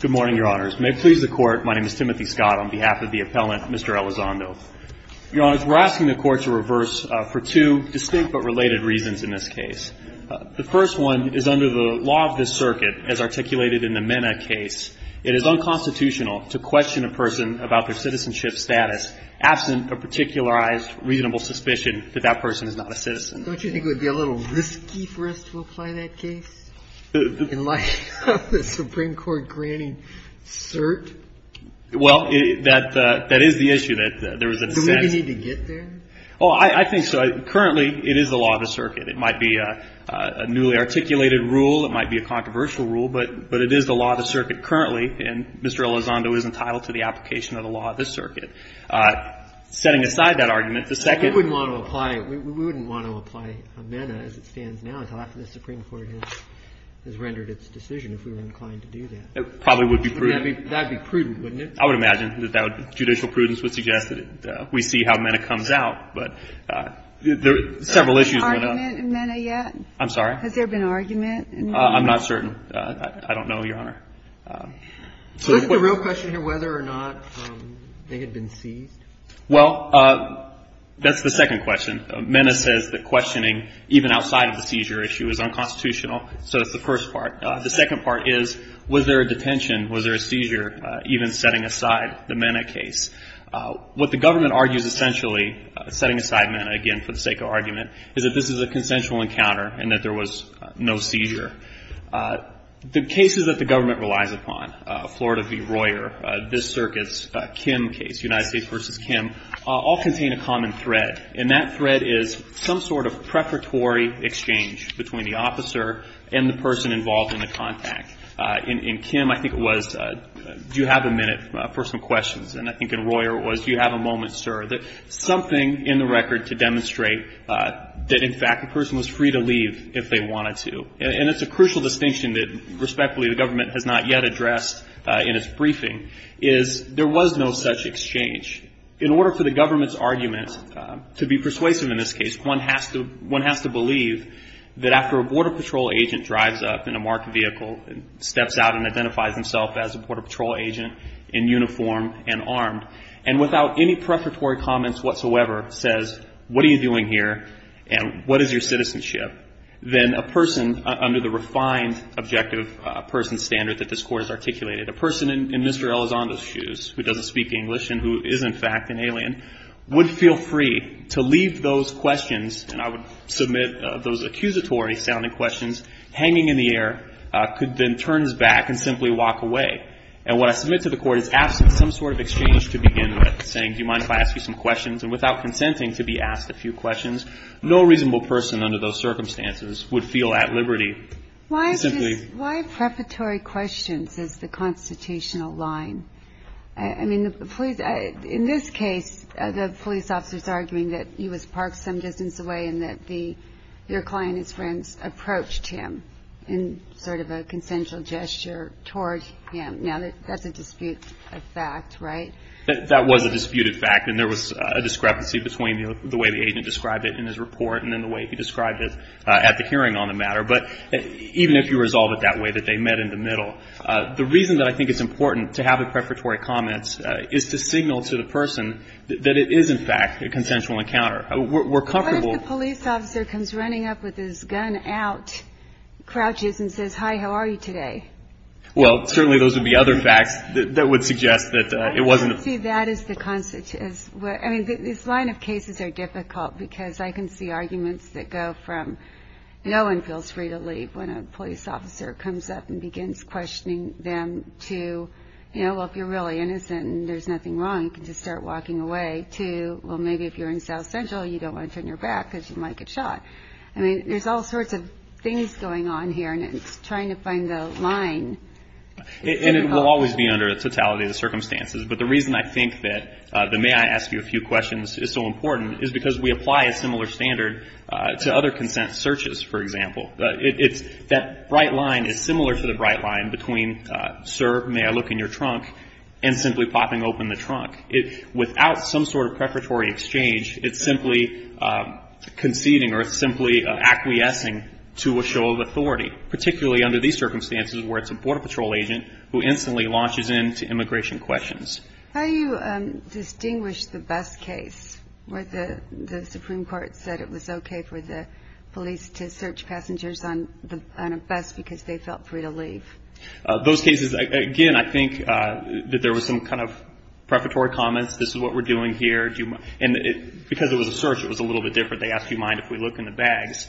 Good morning, Your Honors. May it please the Court, my name is Timothy Scott. On behalf of the appellant, Mr. Elizondo. Your Honors, we're asking the Court to reverse for two distinct but related reasons in this case. The first one is under the law of the circuit as articulated in the Mena case. It is unconstitutional to question a person about their citizenship status absent a particularized reasonable suspicion that that person is not a citizen. Don't you think it would be a little risky for us to apply that case in light of the Supreme Court granting cert? Well, that is the issue. Do we need to get there? Oh, I think so. Currently, it is the law of the circuit. It might be a newly articulated rule, it might be a controversial rule, but it is the law of the circuit currently, and Mr. Elizondo is entitled to the application of the law of the circuit. Setting aside that argument, the second We wouldn't want to apply Mena as it stands now until after the Supreme Court has rendered its decision, if we were inclined to do that. It probably would be prudent. That would be prudent, wouldn't it? I would imagine that judicial prudence would suggest that we see how Mena comes out, but several issues went up. Has there been argument in Mena yet? I'm sorry? Has there been argument in Mena yet? I'm not certain. I don't know, Your Honor. So is the real question here whether or not they had been seized? Well, that's the second question. Mena says that questioning, even outside of the seizure issue, is unconstitutional, so that's the first part. The second part is, was there a detention, was there a seizure, even setting aside the Mena case? What the government argues, essentially, setting aside Mena, again, for the sake of argument, is that this is a consensual encounter and that there was no seizure. The cases that the government relies upon, Florida v. Royer, this circuit's Kim case, United States v. Kim, all contain a common thread, and that thread is some sort of preparatory exchange between the officer and the person involved in the contact. In Kim, I think it was, do you have a minute for some questions? And I think in Royer it was, do you have a moment, sir? Something in the record to demonstrate that, in fact, the person was free to leave if they wanted to. And it's a crucial distinction that, respectfully, the government has not yet addressed in its briefing, is there was no such exchange. In order for the government's argument to be persuasive in this case, one has to believe that after a Border Patrol agent drives up in a marked vehicle and steps out and identifies himself as a Border Patrol agent in uniform and armed, and without any preparatory comments whatsoever, says, what are you doing here, and what is your citizenship, then a person under the refined objective person standard that this Court has articulated, a person in Mr. Elizondo's shoes, who doesn't speak English and who is, in fact, an alien, would feel free to leave those questions, and I would submit those accusatory-sounding questions, hanging in the air, could then turn back and simply walk away. And what I submit to the Court is absent some sort of exchange to begin with, saying, do you mind if I ask you some questions, and without consenting to be asked a few questions, no reasonable person under those circumstances would feel at liberty. Why preparatory questions is the constitutional line? I mean, in this case, the police officer is arguing that he was parked some distance away and that your client and his friends approached him in sort of a consensual gesture toward him. Now, that's a disputed fact, right? That was a disputed fact, and there was a discrepancy between the way the agent described it in his report and in the way he described it at the hearing on the matter. But even if you resolve it that way, that they met in the middle, the reason that I think it's important to have a preparatory comment is to signal to the person that it is, in fact, a consensual encounter. We're comfortable ---- What if the police officer comes running up with his gun out, crouches and says, hi, how are you today? Well, certainly those would be other facts that would suggest that it wasn't a ---- See, that is the constitutional ---- I mean, this line of cases are difficult because I can see arguments that go from no one feels free to leave when a police officer comes up and begins questioning them to, you know, well, if you're really innocent and there's nothing wrong, you can just start walking away, to, well, maybe if you're in South Central, you don't want to turn your back because you might get shot. I mean, there's all sorts of things going on here, and it's trying to find the line. And it will always be under the totality of the circumstances. But the reason I think that the may I ask you a few questions is so important is because we apply a similar standard to other consent searches, for example. It's that bright line is similar to the bright line between, sir, may I look in your trunk, and simply popping open the trunk. Without some sort of prefatory exchange, it's simply conceding or simply acquiescing to a show of authority, particularly under these circumstances where it's a Border Patrol agent who instantly launches into immigration questions. How do you distinguish the bus case where the Supreme Court said it was okay for the police to search passengers on a bus because they felt free to leave? Those cases, again, I think that there was some kind of prefatory comments. This is what we're doing here. And because it was a search, it was a little bit different. They asked, do you mind if we look in the bags,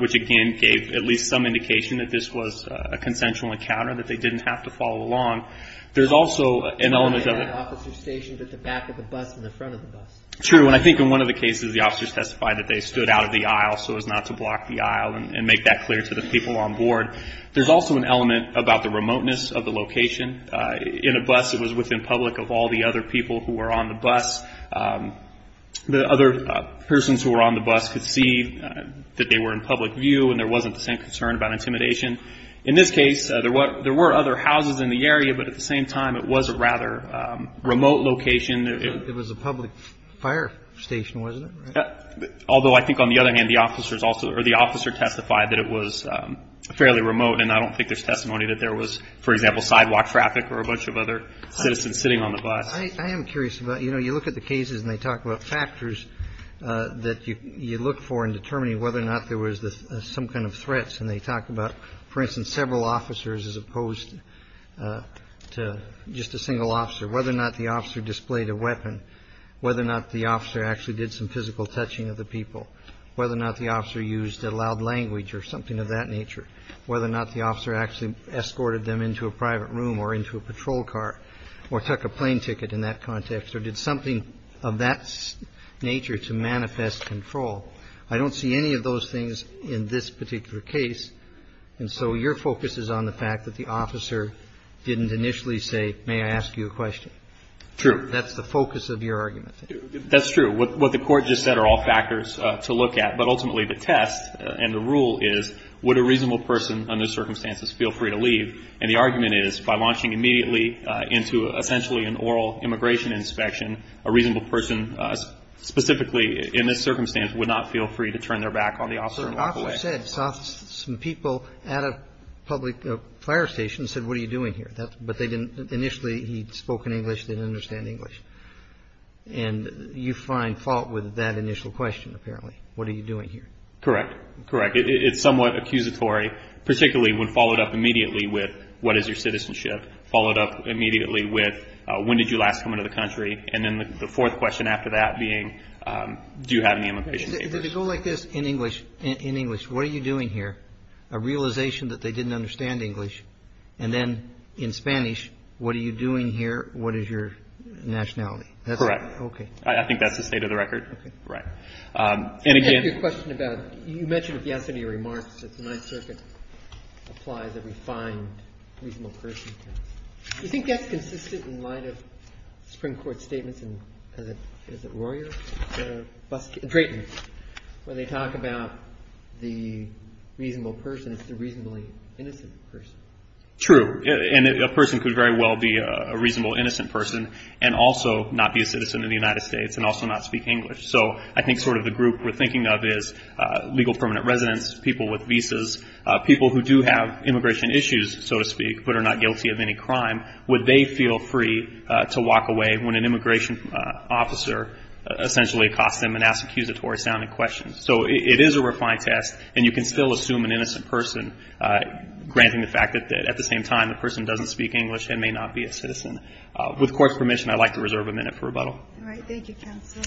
which again gave at least some indication that this was a consensual encounter, that they didn't have to follow along. There's also an element of it. An officer stationed at the back of the bus and the front of the bus. True, and I think in one of the cases, the officers testified that they stood out of the aisle so as not to block the aisle and make that clear to the people on board. There's also an element about the remoteness of the location. In a bus, it was within public of all the other people who were on the bus. The other persons who were on the bus could see that they were in public view and there wasn't the same concern about intimidation. In this case, there were other houses in the area, but at the same time it was a rather remote location. It was a public fire station, wasn't it? Although I think on the other hand, the officer testified that it was fairly remote, and I don't think there's testimony that there was, for example, sidewalk traffic or a bunch of other citizens sitting on the bus. I am curious about, you know, you look at the cases and they talk about factors that you look for in determining whether or not there was some kind of threats. And they talk about, for instance, several officers as opposed to just a single officer, whether or not the officer displayed a weapon, whether or not the officer actually did some physical touching of the people, whether or not the officer used a loud language or something of that nature, whether or not the officer actually escorted them into a private room or into a patrol car or took a plane ticket in that context or did something of that nature to manifest control. I don't see any of those things in this particular case. And so your focus is on the fact that the officer didn't initially say, may I ask you a question? True. That's the focus of your argument. That's true. What the court just said are all factors to look at, but ultimately the test and the rule is would a reasonable person under circumstances feel free to leave? And the argument is by launching immediately into essentially an oral immigration inspection, a reasonable person specifically in this circumstance would not feel free to turn their back on the officer and walk away. So the officer said, saw some people at a public fire station and said, what are you doing here? But they didn't, initially he spoke in English, didn't understand English. And you find fault with that initial question apparently. What are you doing here? Correct. Correct. It's somewhat accusatory, particularly when followed up immediately with what is your citizenship? Followed up immediately with when did you last come into the country? And then the fourth question after that being, do you have any immigration papers? Did it go like this in English? In English, what are you doing here? A realization that they didn't understand English. And then in Spanish, what are you doing here? What is your nationality? Correct. Okay. I think that's the state of the record. Right. And again. I have a question about, you mentioned yesterday in your remarks that the Ninth Circuit applies a refined reasonable person test. Do you think that's consistent in light of Supreme Court statements in, is it Royer? Drayton. When they talk about the reasonable person, it's the reasonably innocent person. True. And a person could very well be a reasonable innocent person and also not be a citizen of the United States and also not speak English. So I think sort of the group we're thinking of is legal permanent residents, people with visas, people who do have immigration issues, so to speak, but are not guilty of any crime. Would they feel free to walk away when an immigration officer essentially accosts them and asks accusatory sounding questions? So it is a refined test, and you can still assume an innocent person, granting the fact that at the same time the person doesn't speak English and may not be a citizen. With Court's permission, I'd like to reserve a minute for rebuttal. All right. Thank you, counsel.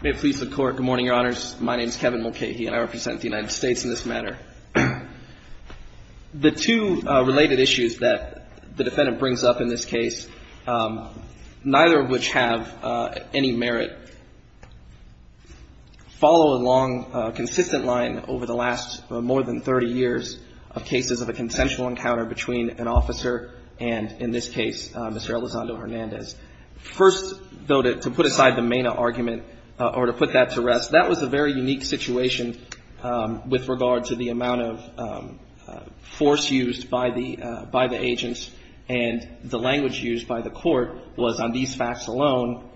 May it please the Court. Good morning, Your Honors. My name is Kevin Mulcahy, and I represent the United States in this matter. The two related issues that the defendant brings up in this case, neither of which have any merit, follow a long consistent line over the last more than 30 years of cases of a consensual encounter between an officer and, in this case, Mr. Elizondo Hernandez. First, though, to put aside the MENA argument or to put that to rest, that was a very unique situation with regard to the amount of force used by the agents. And the language used by the Court was, on these facts alone,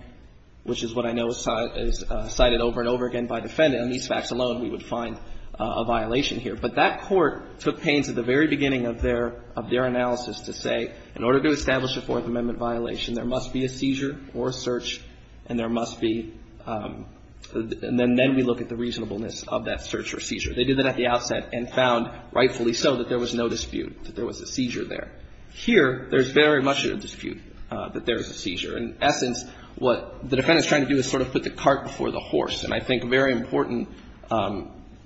which is what I know is cited over and over again by the defendant, on these facts alone we would find a violation here. But that Court took pains at the very beginning of their analysis to say, in order to establish a Fourth Amendment violation, there must be a seizure or a search, and there must be — and then we look at the reasonableness of that search or seizure. They did that at the outset and found, rightfully so, that there was no dispute, that there was a seizure there. Here, there's very much a dispute that there is a seizure. In essence, what the defendant is trying to do is sort of put the cart before the horse. And I think a very important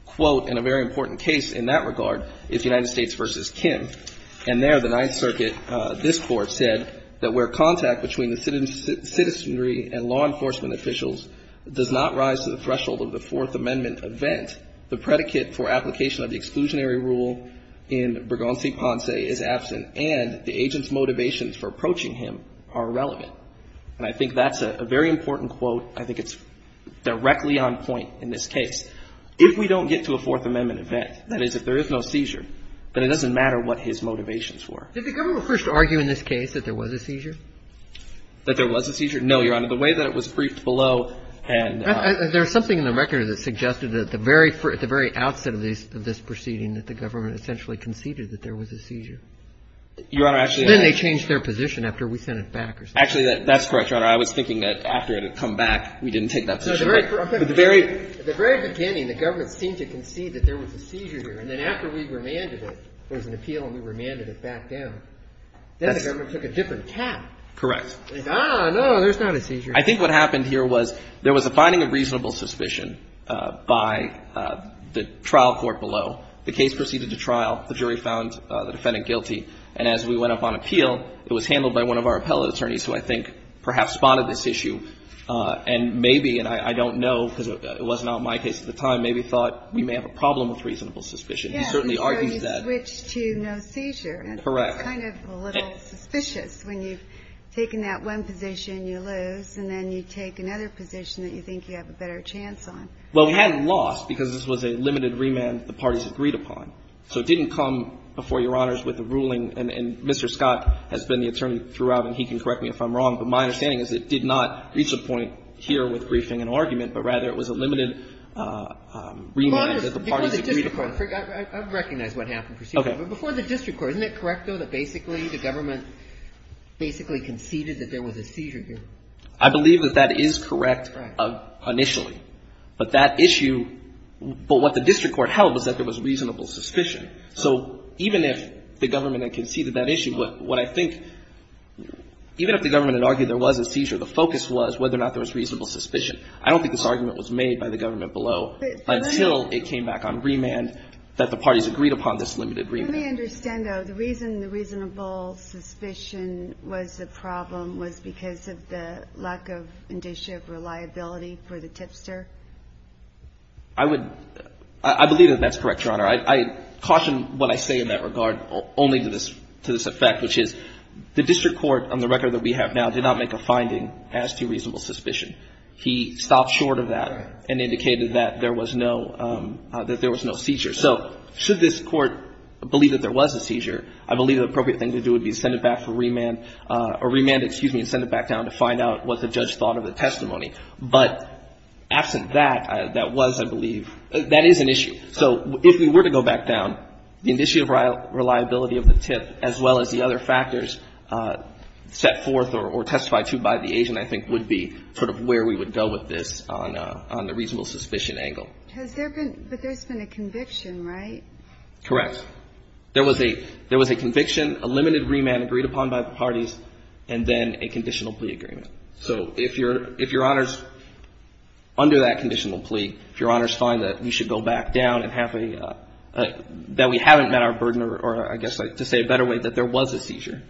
quote and a very important case in that regard is United States v. Kim. And there the Ninth Circuit, this Court, said that where contact between the citizenry and law enforcement officials does not rise to the threshold of the Fourth Amendment event, the predicate for application of the exclusionary rule in Burgon v. Ponce is absent and the agent's motivations for approaching him are irrelevant. And I think that's a very important quote. I think it's directly on point in this case. If we don't get to a Fourth Amendment event, that is, if there is no seizure, then it doesn't matter what his motivations were. Did the government first argue in this case that there was a seizure? That there was a seizure? No, Your Honor. The way that it was briefed below and — There's something in the record that suggested that at the very outset of this proceeding that the government essentially conceded that there was a seizure. Your Honor, actually — And then they changed their position after we sent it back or something. Actually, that's correct, Your Honor. I was thinking that after it had come back, we didn't take that position. But the very — At the very beginning, the government seemed to concede that there was a seizure here. And then after we remanded it, there was an appeal and we remanded it back down. Correct. Ah, no, there's not a seizure. I think what happened here was there was a finding of reasonable suspicion by the trial court below. The case proceeded to trial. The jury found the defendant guilty. And as we went up on appeal, it was handled by one of our appellate attorneys who I think perhaps spotted this issue and maybe, and I don't know because it was not my case at the time, maybe thought we may have a problem with reasonable suspicion. Yes. He certainly argued that — So you switched to no seizure. Correct. It's kind of a little suspicious when you've taken that one position, you lose, and then you take another position that you think you have a better chance on. Well, we hadn't lost because this was a limited remand the parties agreed upon. So it didn't come before Your Honors with a ruling, and Mr. Scott has been the attorney throughout, and he can correct me if I'm wrong. But my understanding is it did not reach a point here with briefing and argument, but rather it was a limited remand that the parties agreed upon. Your Honor, before the district court, I recognize what happened. Before the district court, isn't it correct, though, that basically the government basically conceded that there was a seizure here? I believe that that is correct initially. But that issue — but what the district court held was that there was reasonable suspicion. So even if the government had conceded that issue, what I think — even if the government had argued there was a seizure, the focus was whether or not there was reasonable suspicion. I don't think this argument was made by the government below until it came back on Let me understand, though. The reason the reasonable suspicion was a problem was because of the lack of indicia of reliability for the tipster? I would — I believe that that's correct, Your Honor. I caution what I say in that regard only to this effect, which is the district court, on the record that we have now, did not make a finding as to reasonable suspicion. He stopped short of that and indicated that there was no — that there was no seizure. So should this Court believe that there was a seizure, I believe the appropriate thing to do would be to send it back for remand — or remand, excuse me, and send it back down to find out what the judge thought of the testimony. But absent that, that was, I believe — that is an issue. So if we were to go back down, the indicia of reliability of the tip, as well as the other factors set forth or testified to by the agent, I think, would be sort of where we would go with this on the reasonable suspicion angle. Has there been — but there's been a conviction, right? Correct. There was a — there was a conviction, a limited remand agreed upon by the parties, and then a conditional plea agreement. So if Your Honor's — under that conditional plea, if Your Honor's find that we should go back down and have a — that we haven't met our burden, or I guess to say a better way, that there was a seizure,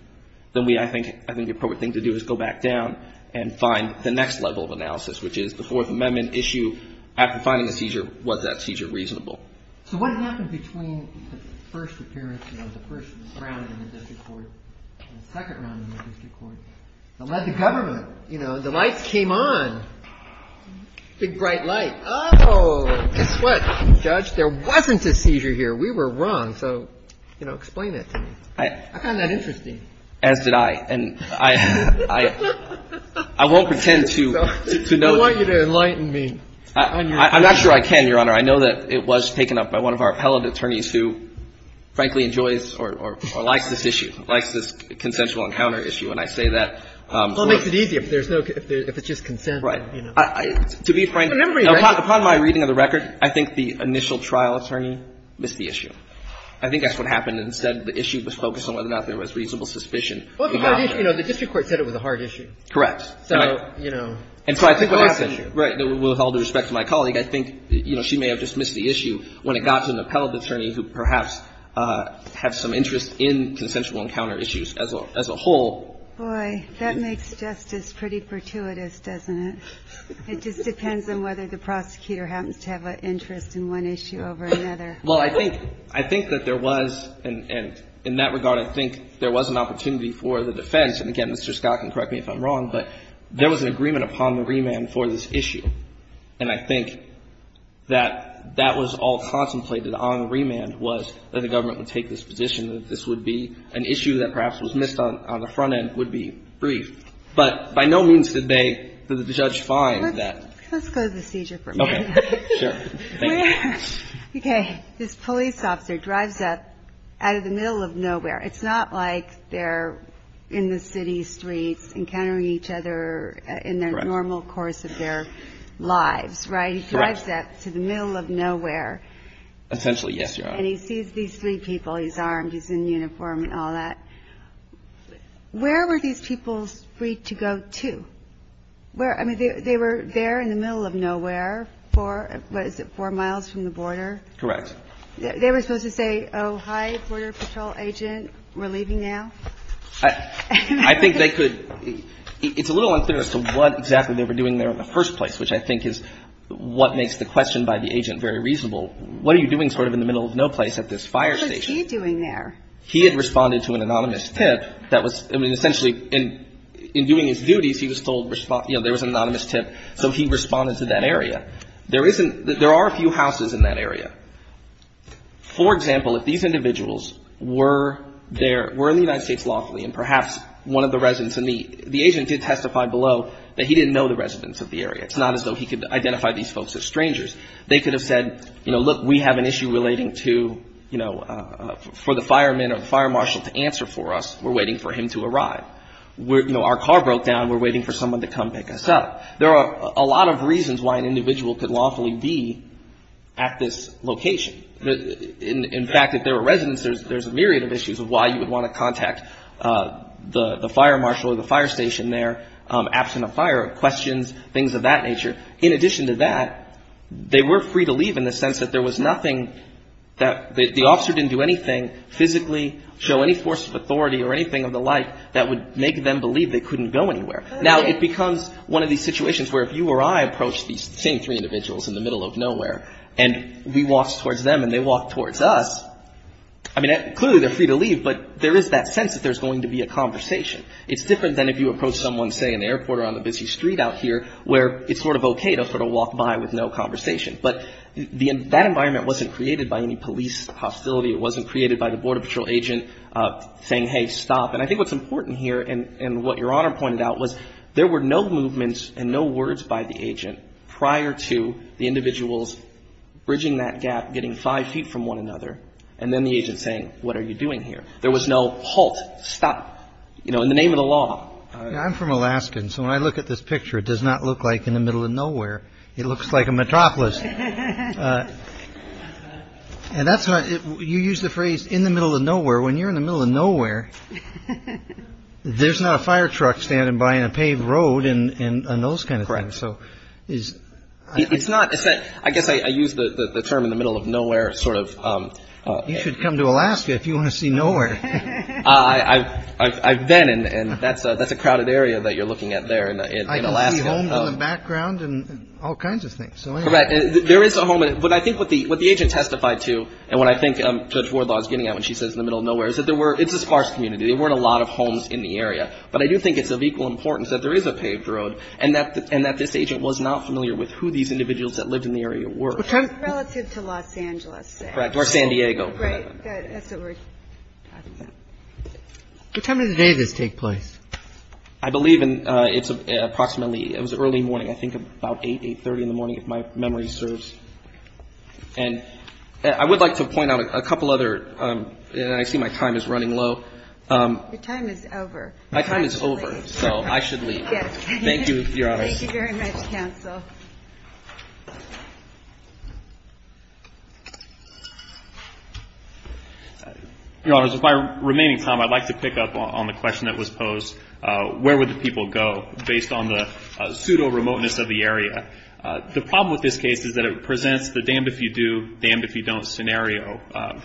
then we, I think — I think the appropriate thing to do is go back down and find the next level of analysis, which is the Fourth Amendment issue. After finding a seizure, was that seizure reasonable? So what happened between the first appearance, you know, the first round in the district court and the second round in the district court that led to government? You know, the lights came on. Big, bright light. Oh, guess what, Judge? There wasn't a seizure here. We were wrong. So, you know, explain that to me. I found that interesting. As did I. And I — I won't pretend to know — I want you to enlighten me on your — I'm not sure I can, Your Honor. I know that it was taken up by one of our appellate attorneys who, frankly, enjoys or likes this issue, likes this consensual encounter issue. And I say that — Well, it makes it easier if there's no — if it's just consent. Right. To be frank — Remember — Upon my reading of the record, I think the initial trial attorney missed the issue. I think that's what happened. Instead, the issue was focused on whether or not there was reasonable suspicion. Well, the district court said it was a hard issue. Correct. So, you know — And so I think what happened — Right. With all due respect to my colleague, I think, you know, she may have dismissed the issue when it got to an appellate attorney who perhaps had some interest in consensual encounter issues as a whole. Boy, that makes justice pretty pertuitous, doesn't it? It just depends on whether the prosecutor happens to have an interest in one issue over another. Well, I think — I think that there was — and in that regard, I think there was an opportunity for the defense. And, again, Mr. Scott can correct me if I'm wrong. But there was an agreement upon the remand for this issue. And I think that that was all contemplated on the remand was that the government would take this position, that this would be an issue that perhaps was missed on the front end, would be brief. But by no means did they — did the judge find that — Let's go to the seizure for a minute. Okay. Sure. Thank you. Okay. This police officer drives up out of the middle of nowhere. It's not like they're in the city streets encountering each other in their normal course of their lives, right? Correct. He drives up to the middle of nowhere. Essentially, yes, Your Honor. And he sees these three people. He's armed. He's in uniform and all that. Where were these people free to go to? Where — I mean, they were there in the middle of nowhere, four — what is it, four miles from the border? Correct. They were supposed to say, oh, hi, Border Patrol agent, we're leaving now? I think they could — it's a little unclear as to what exactly they were doing there in the first place, which I think is what makes the question by the agent very reasonable. What are you doing sort of in the middle of no place at this fire station? What was he doing there? He had responded to an anonymous tip that was — I mean, essentially, in doing his duties, he was told — you know, there was an anonymous tip, so he responded to that area. There isn't — there are a few houses in that area. For example, if these individuals were there — were in the United States lawfully, and perhaps one of the residents in the — the agent did testify below that he didn't know the residents of the area. It's not as though he could identify these folks as strangers. They could have said, you know, look, we have an issue relating to, you know, for the fireman or the fire marshal to answer for us. We're waiting for him to arrive. You know, our car broke down. We're waiting for someone to come pick us up. There are a lot of reasons why an individual could lawfully be at this location. In fact, if there were residents, there's a myriad of issues of why you would want to contact the fire marshal or the fire station there absent of fire, questions, things of that nature. In addition to that, they were free to leave in the sense that there was nothing that — the officer didn't do anything physically, show any force of authority or anything of the like that would make them believe they couldn't go anywhere. Now, it becomes one of these situations where if you or I approach these same three individuals in the middle of nowhere and we walk towards them and they walk towards us, I mean, clearly they're free to leave, but there is that sense that there's going to be a conversation. It's different than if you approach someone, say, in the airport or on the busy street out here where it's sort of okay to sort of walk by with no conversation. But that environment wasn't created by any police hostility. It wasn't created by the Border Patrol agent saying, hey, stop. And I think what's important here and what Your Honor pointed out was there were no movements and no words by the agent prior to the individuals bridging that gap, getting five feet from one another, and then the agent saying, what are you doing here? There was no halt, stop, you know, in the name of the law. I'm from Alaska, and so when I look at this picture, it does not look like in the middle of nowhere. It looks like a metropolis. And that's why you use the phrase in the middle of nowhere. When you're in the middle of nowhere, there's not a fire truck standing by in a paved road and those kind of things. So it's not I guess I use the term in the middle of nowhere. Sort of you should come to Alaska if you want to see nowhere. I've been in and that's that's a crowded area that you're looking at there. I don't see homes in the background and all kinds of things. Correct. There is a home. But I think what the agent testified to and what I think Judge Wardlaw is getting at when she says in the middle of nowhere is that there were it's a sparse community. There weren't a lot of homes in the area. But I do think it's of equal importance that there is a paved road and that this agent was not familiar with who these individuals that lived in the area were. Relative to Los Angeles, say. Correct. Or San Diego. Right. That's what we're talking about. What time of the day did this take place? I believe it's approximately it was early morning. I think about 8, 830 in the morning if my memory serves. And I would like to point out a couple other and I see my time is running low. Your time is over. My time is over. So I should leave. Yes. Thank you, Your Honor. Thank you very much, counsel. Your Honor, with my remaining time, I'd like to pick up on the question that was posed. Where would the people go based on the pseudo remoteness of the area? The problem with this case is that it presents the damned if you do, damned if you don't scenario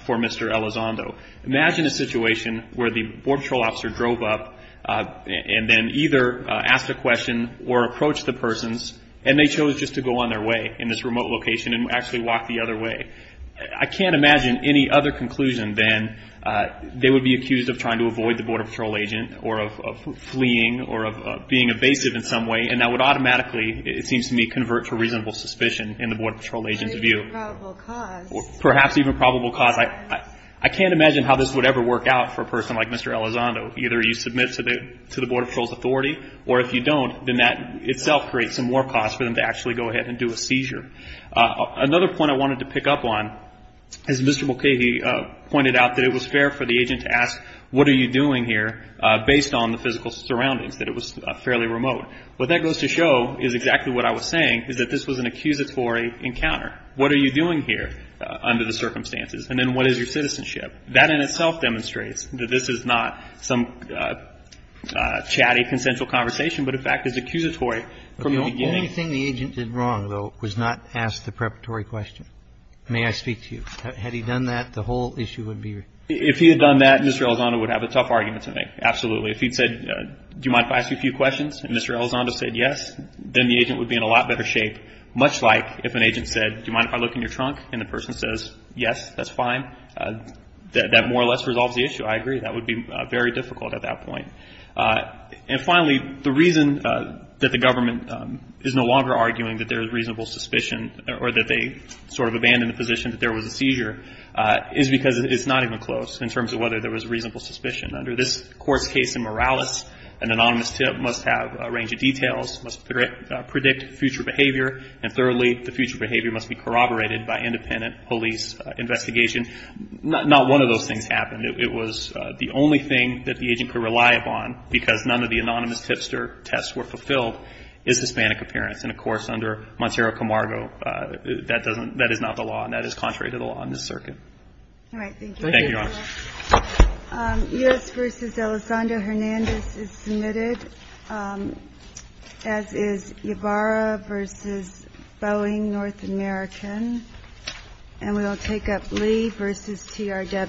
for Mr. Elizondo. Imagine a situation where the Border Patrol officer drove up and then either asked a question or approached the persons and they chose just to go on their way in this remote location and actually walk the other way. I can't imagine any other conclusion than they would be accused of trying to avoid the Border Patrol agent or of fleeing or of being evasive in some way. And that would automatically, it seems to me, convert to reasonable suspicion in the Border Patrol agent's view. Perhaps even probable cause. Perhaps even probable cause. I can't imagine how this would ever work out for a person like Mr. Elizondo. Either you submit to the Border Patrol's authority or if you don't, then that itself creates some more cause for them to actually go ahead and do a seizure. Another point I wanted to pick up on is Mr. Mulcahy pointed out that it was fair for the agent to ask, what are you doing here based on the physical surroundings, that it was fairly remote. What that goes to show is exactly what I was saying, is that this was an accusatory encounter. What are you doing here under the circumstances? And then what is your citizenship? That in itself demonstrates that this is not some chatty consensual conversation, but in fact is accusatory from the beginning. The only thing the agent did wrong, though, was not ask the preparatory question. May I speak to you? Had he done that, the whole issue would be resolved. If he had done that, Mr. Elizondo would have a tough argument today, absolutely. If he had said, do you mind if I ask you a few questions, and Mr. Elizondo said yes, then the agent would be in a lot better shape, much like if an agent said, do you mind if I look in your trunk, and the person says yes, that's fine. That more or less resolves the issue. I agree. That would be very difficult at that point. And finally, the reason that the government is no longer arguing that there is reasonable suspicion or that they sort of abandoned the position that there was a seizure is because it's not even close in terms of whether there was reasonable suspicion. Under this court's case in Morales, an anonymous tip must have a range of details, must predict future behavior, and thirdly, the future behavior must be corroborated by independent police investigation. Not one of those things happened. It was the only thing that the agent could rely upon, because none of the anonymous tipster tests were fulfilled, is Hispanic appearance. And, of course, under Montserrat Camargo, that doesn't – that is not the law, and that is contrary to the law in this circuit. All right. Thank you. Thank you, Your Honor. U.S. v. Elizondo Hernandez is submitted, as is Ybarra v. Boeing, North American. And we will take up Lee v. TRW.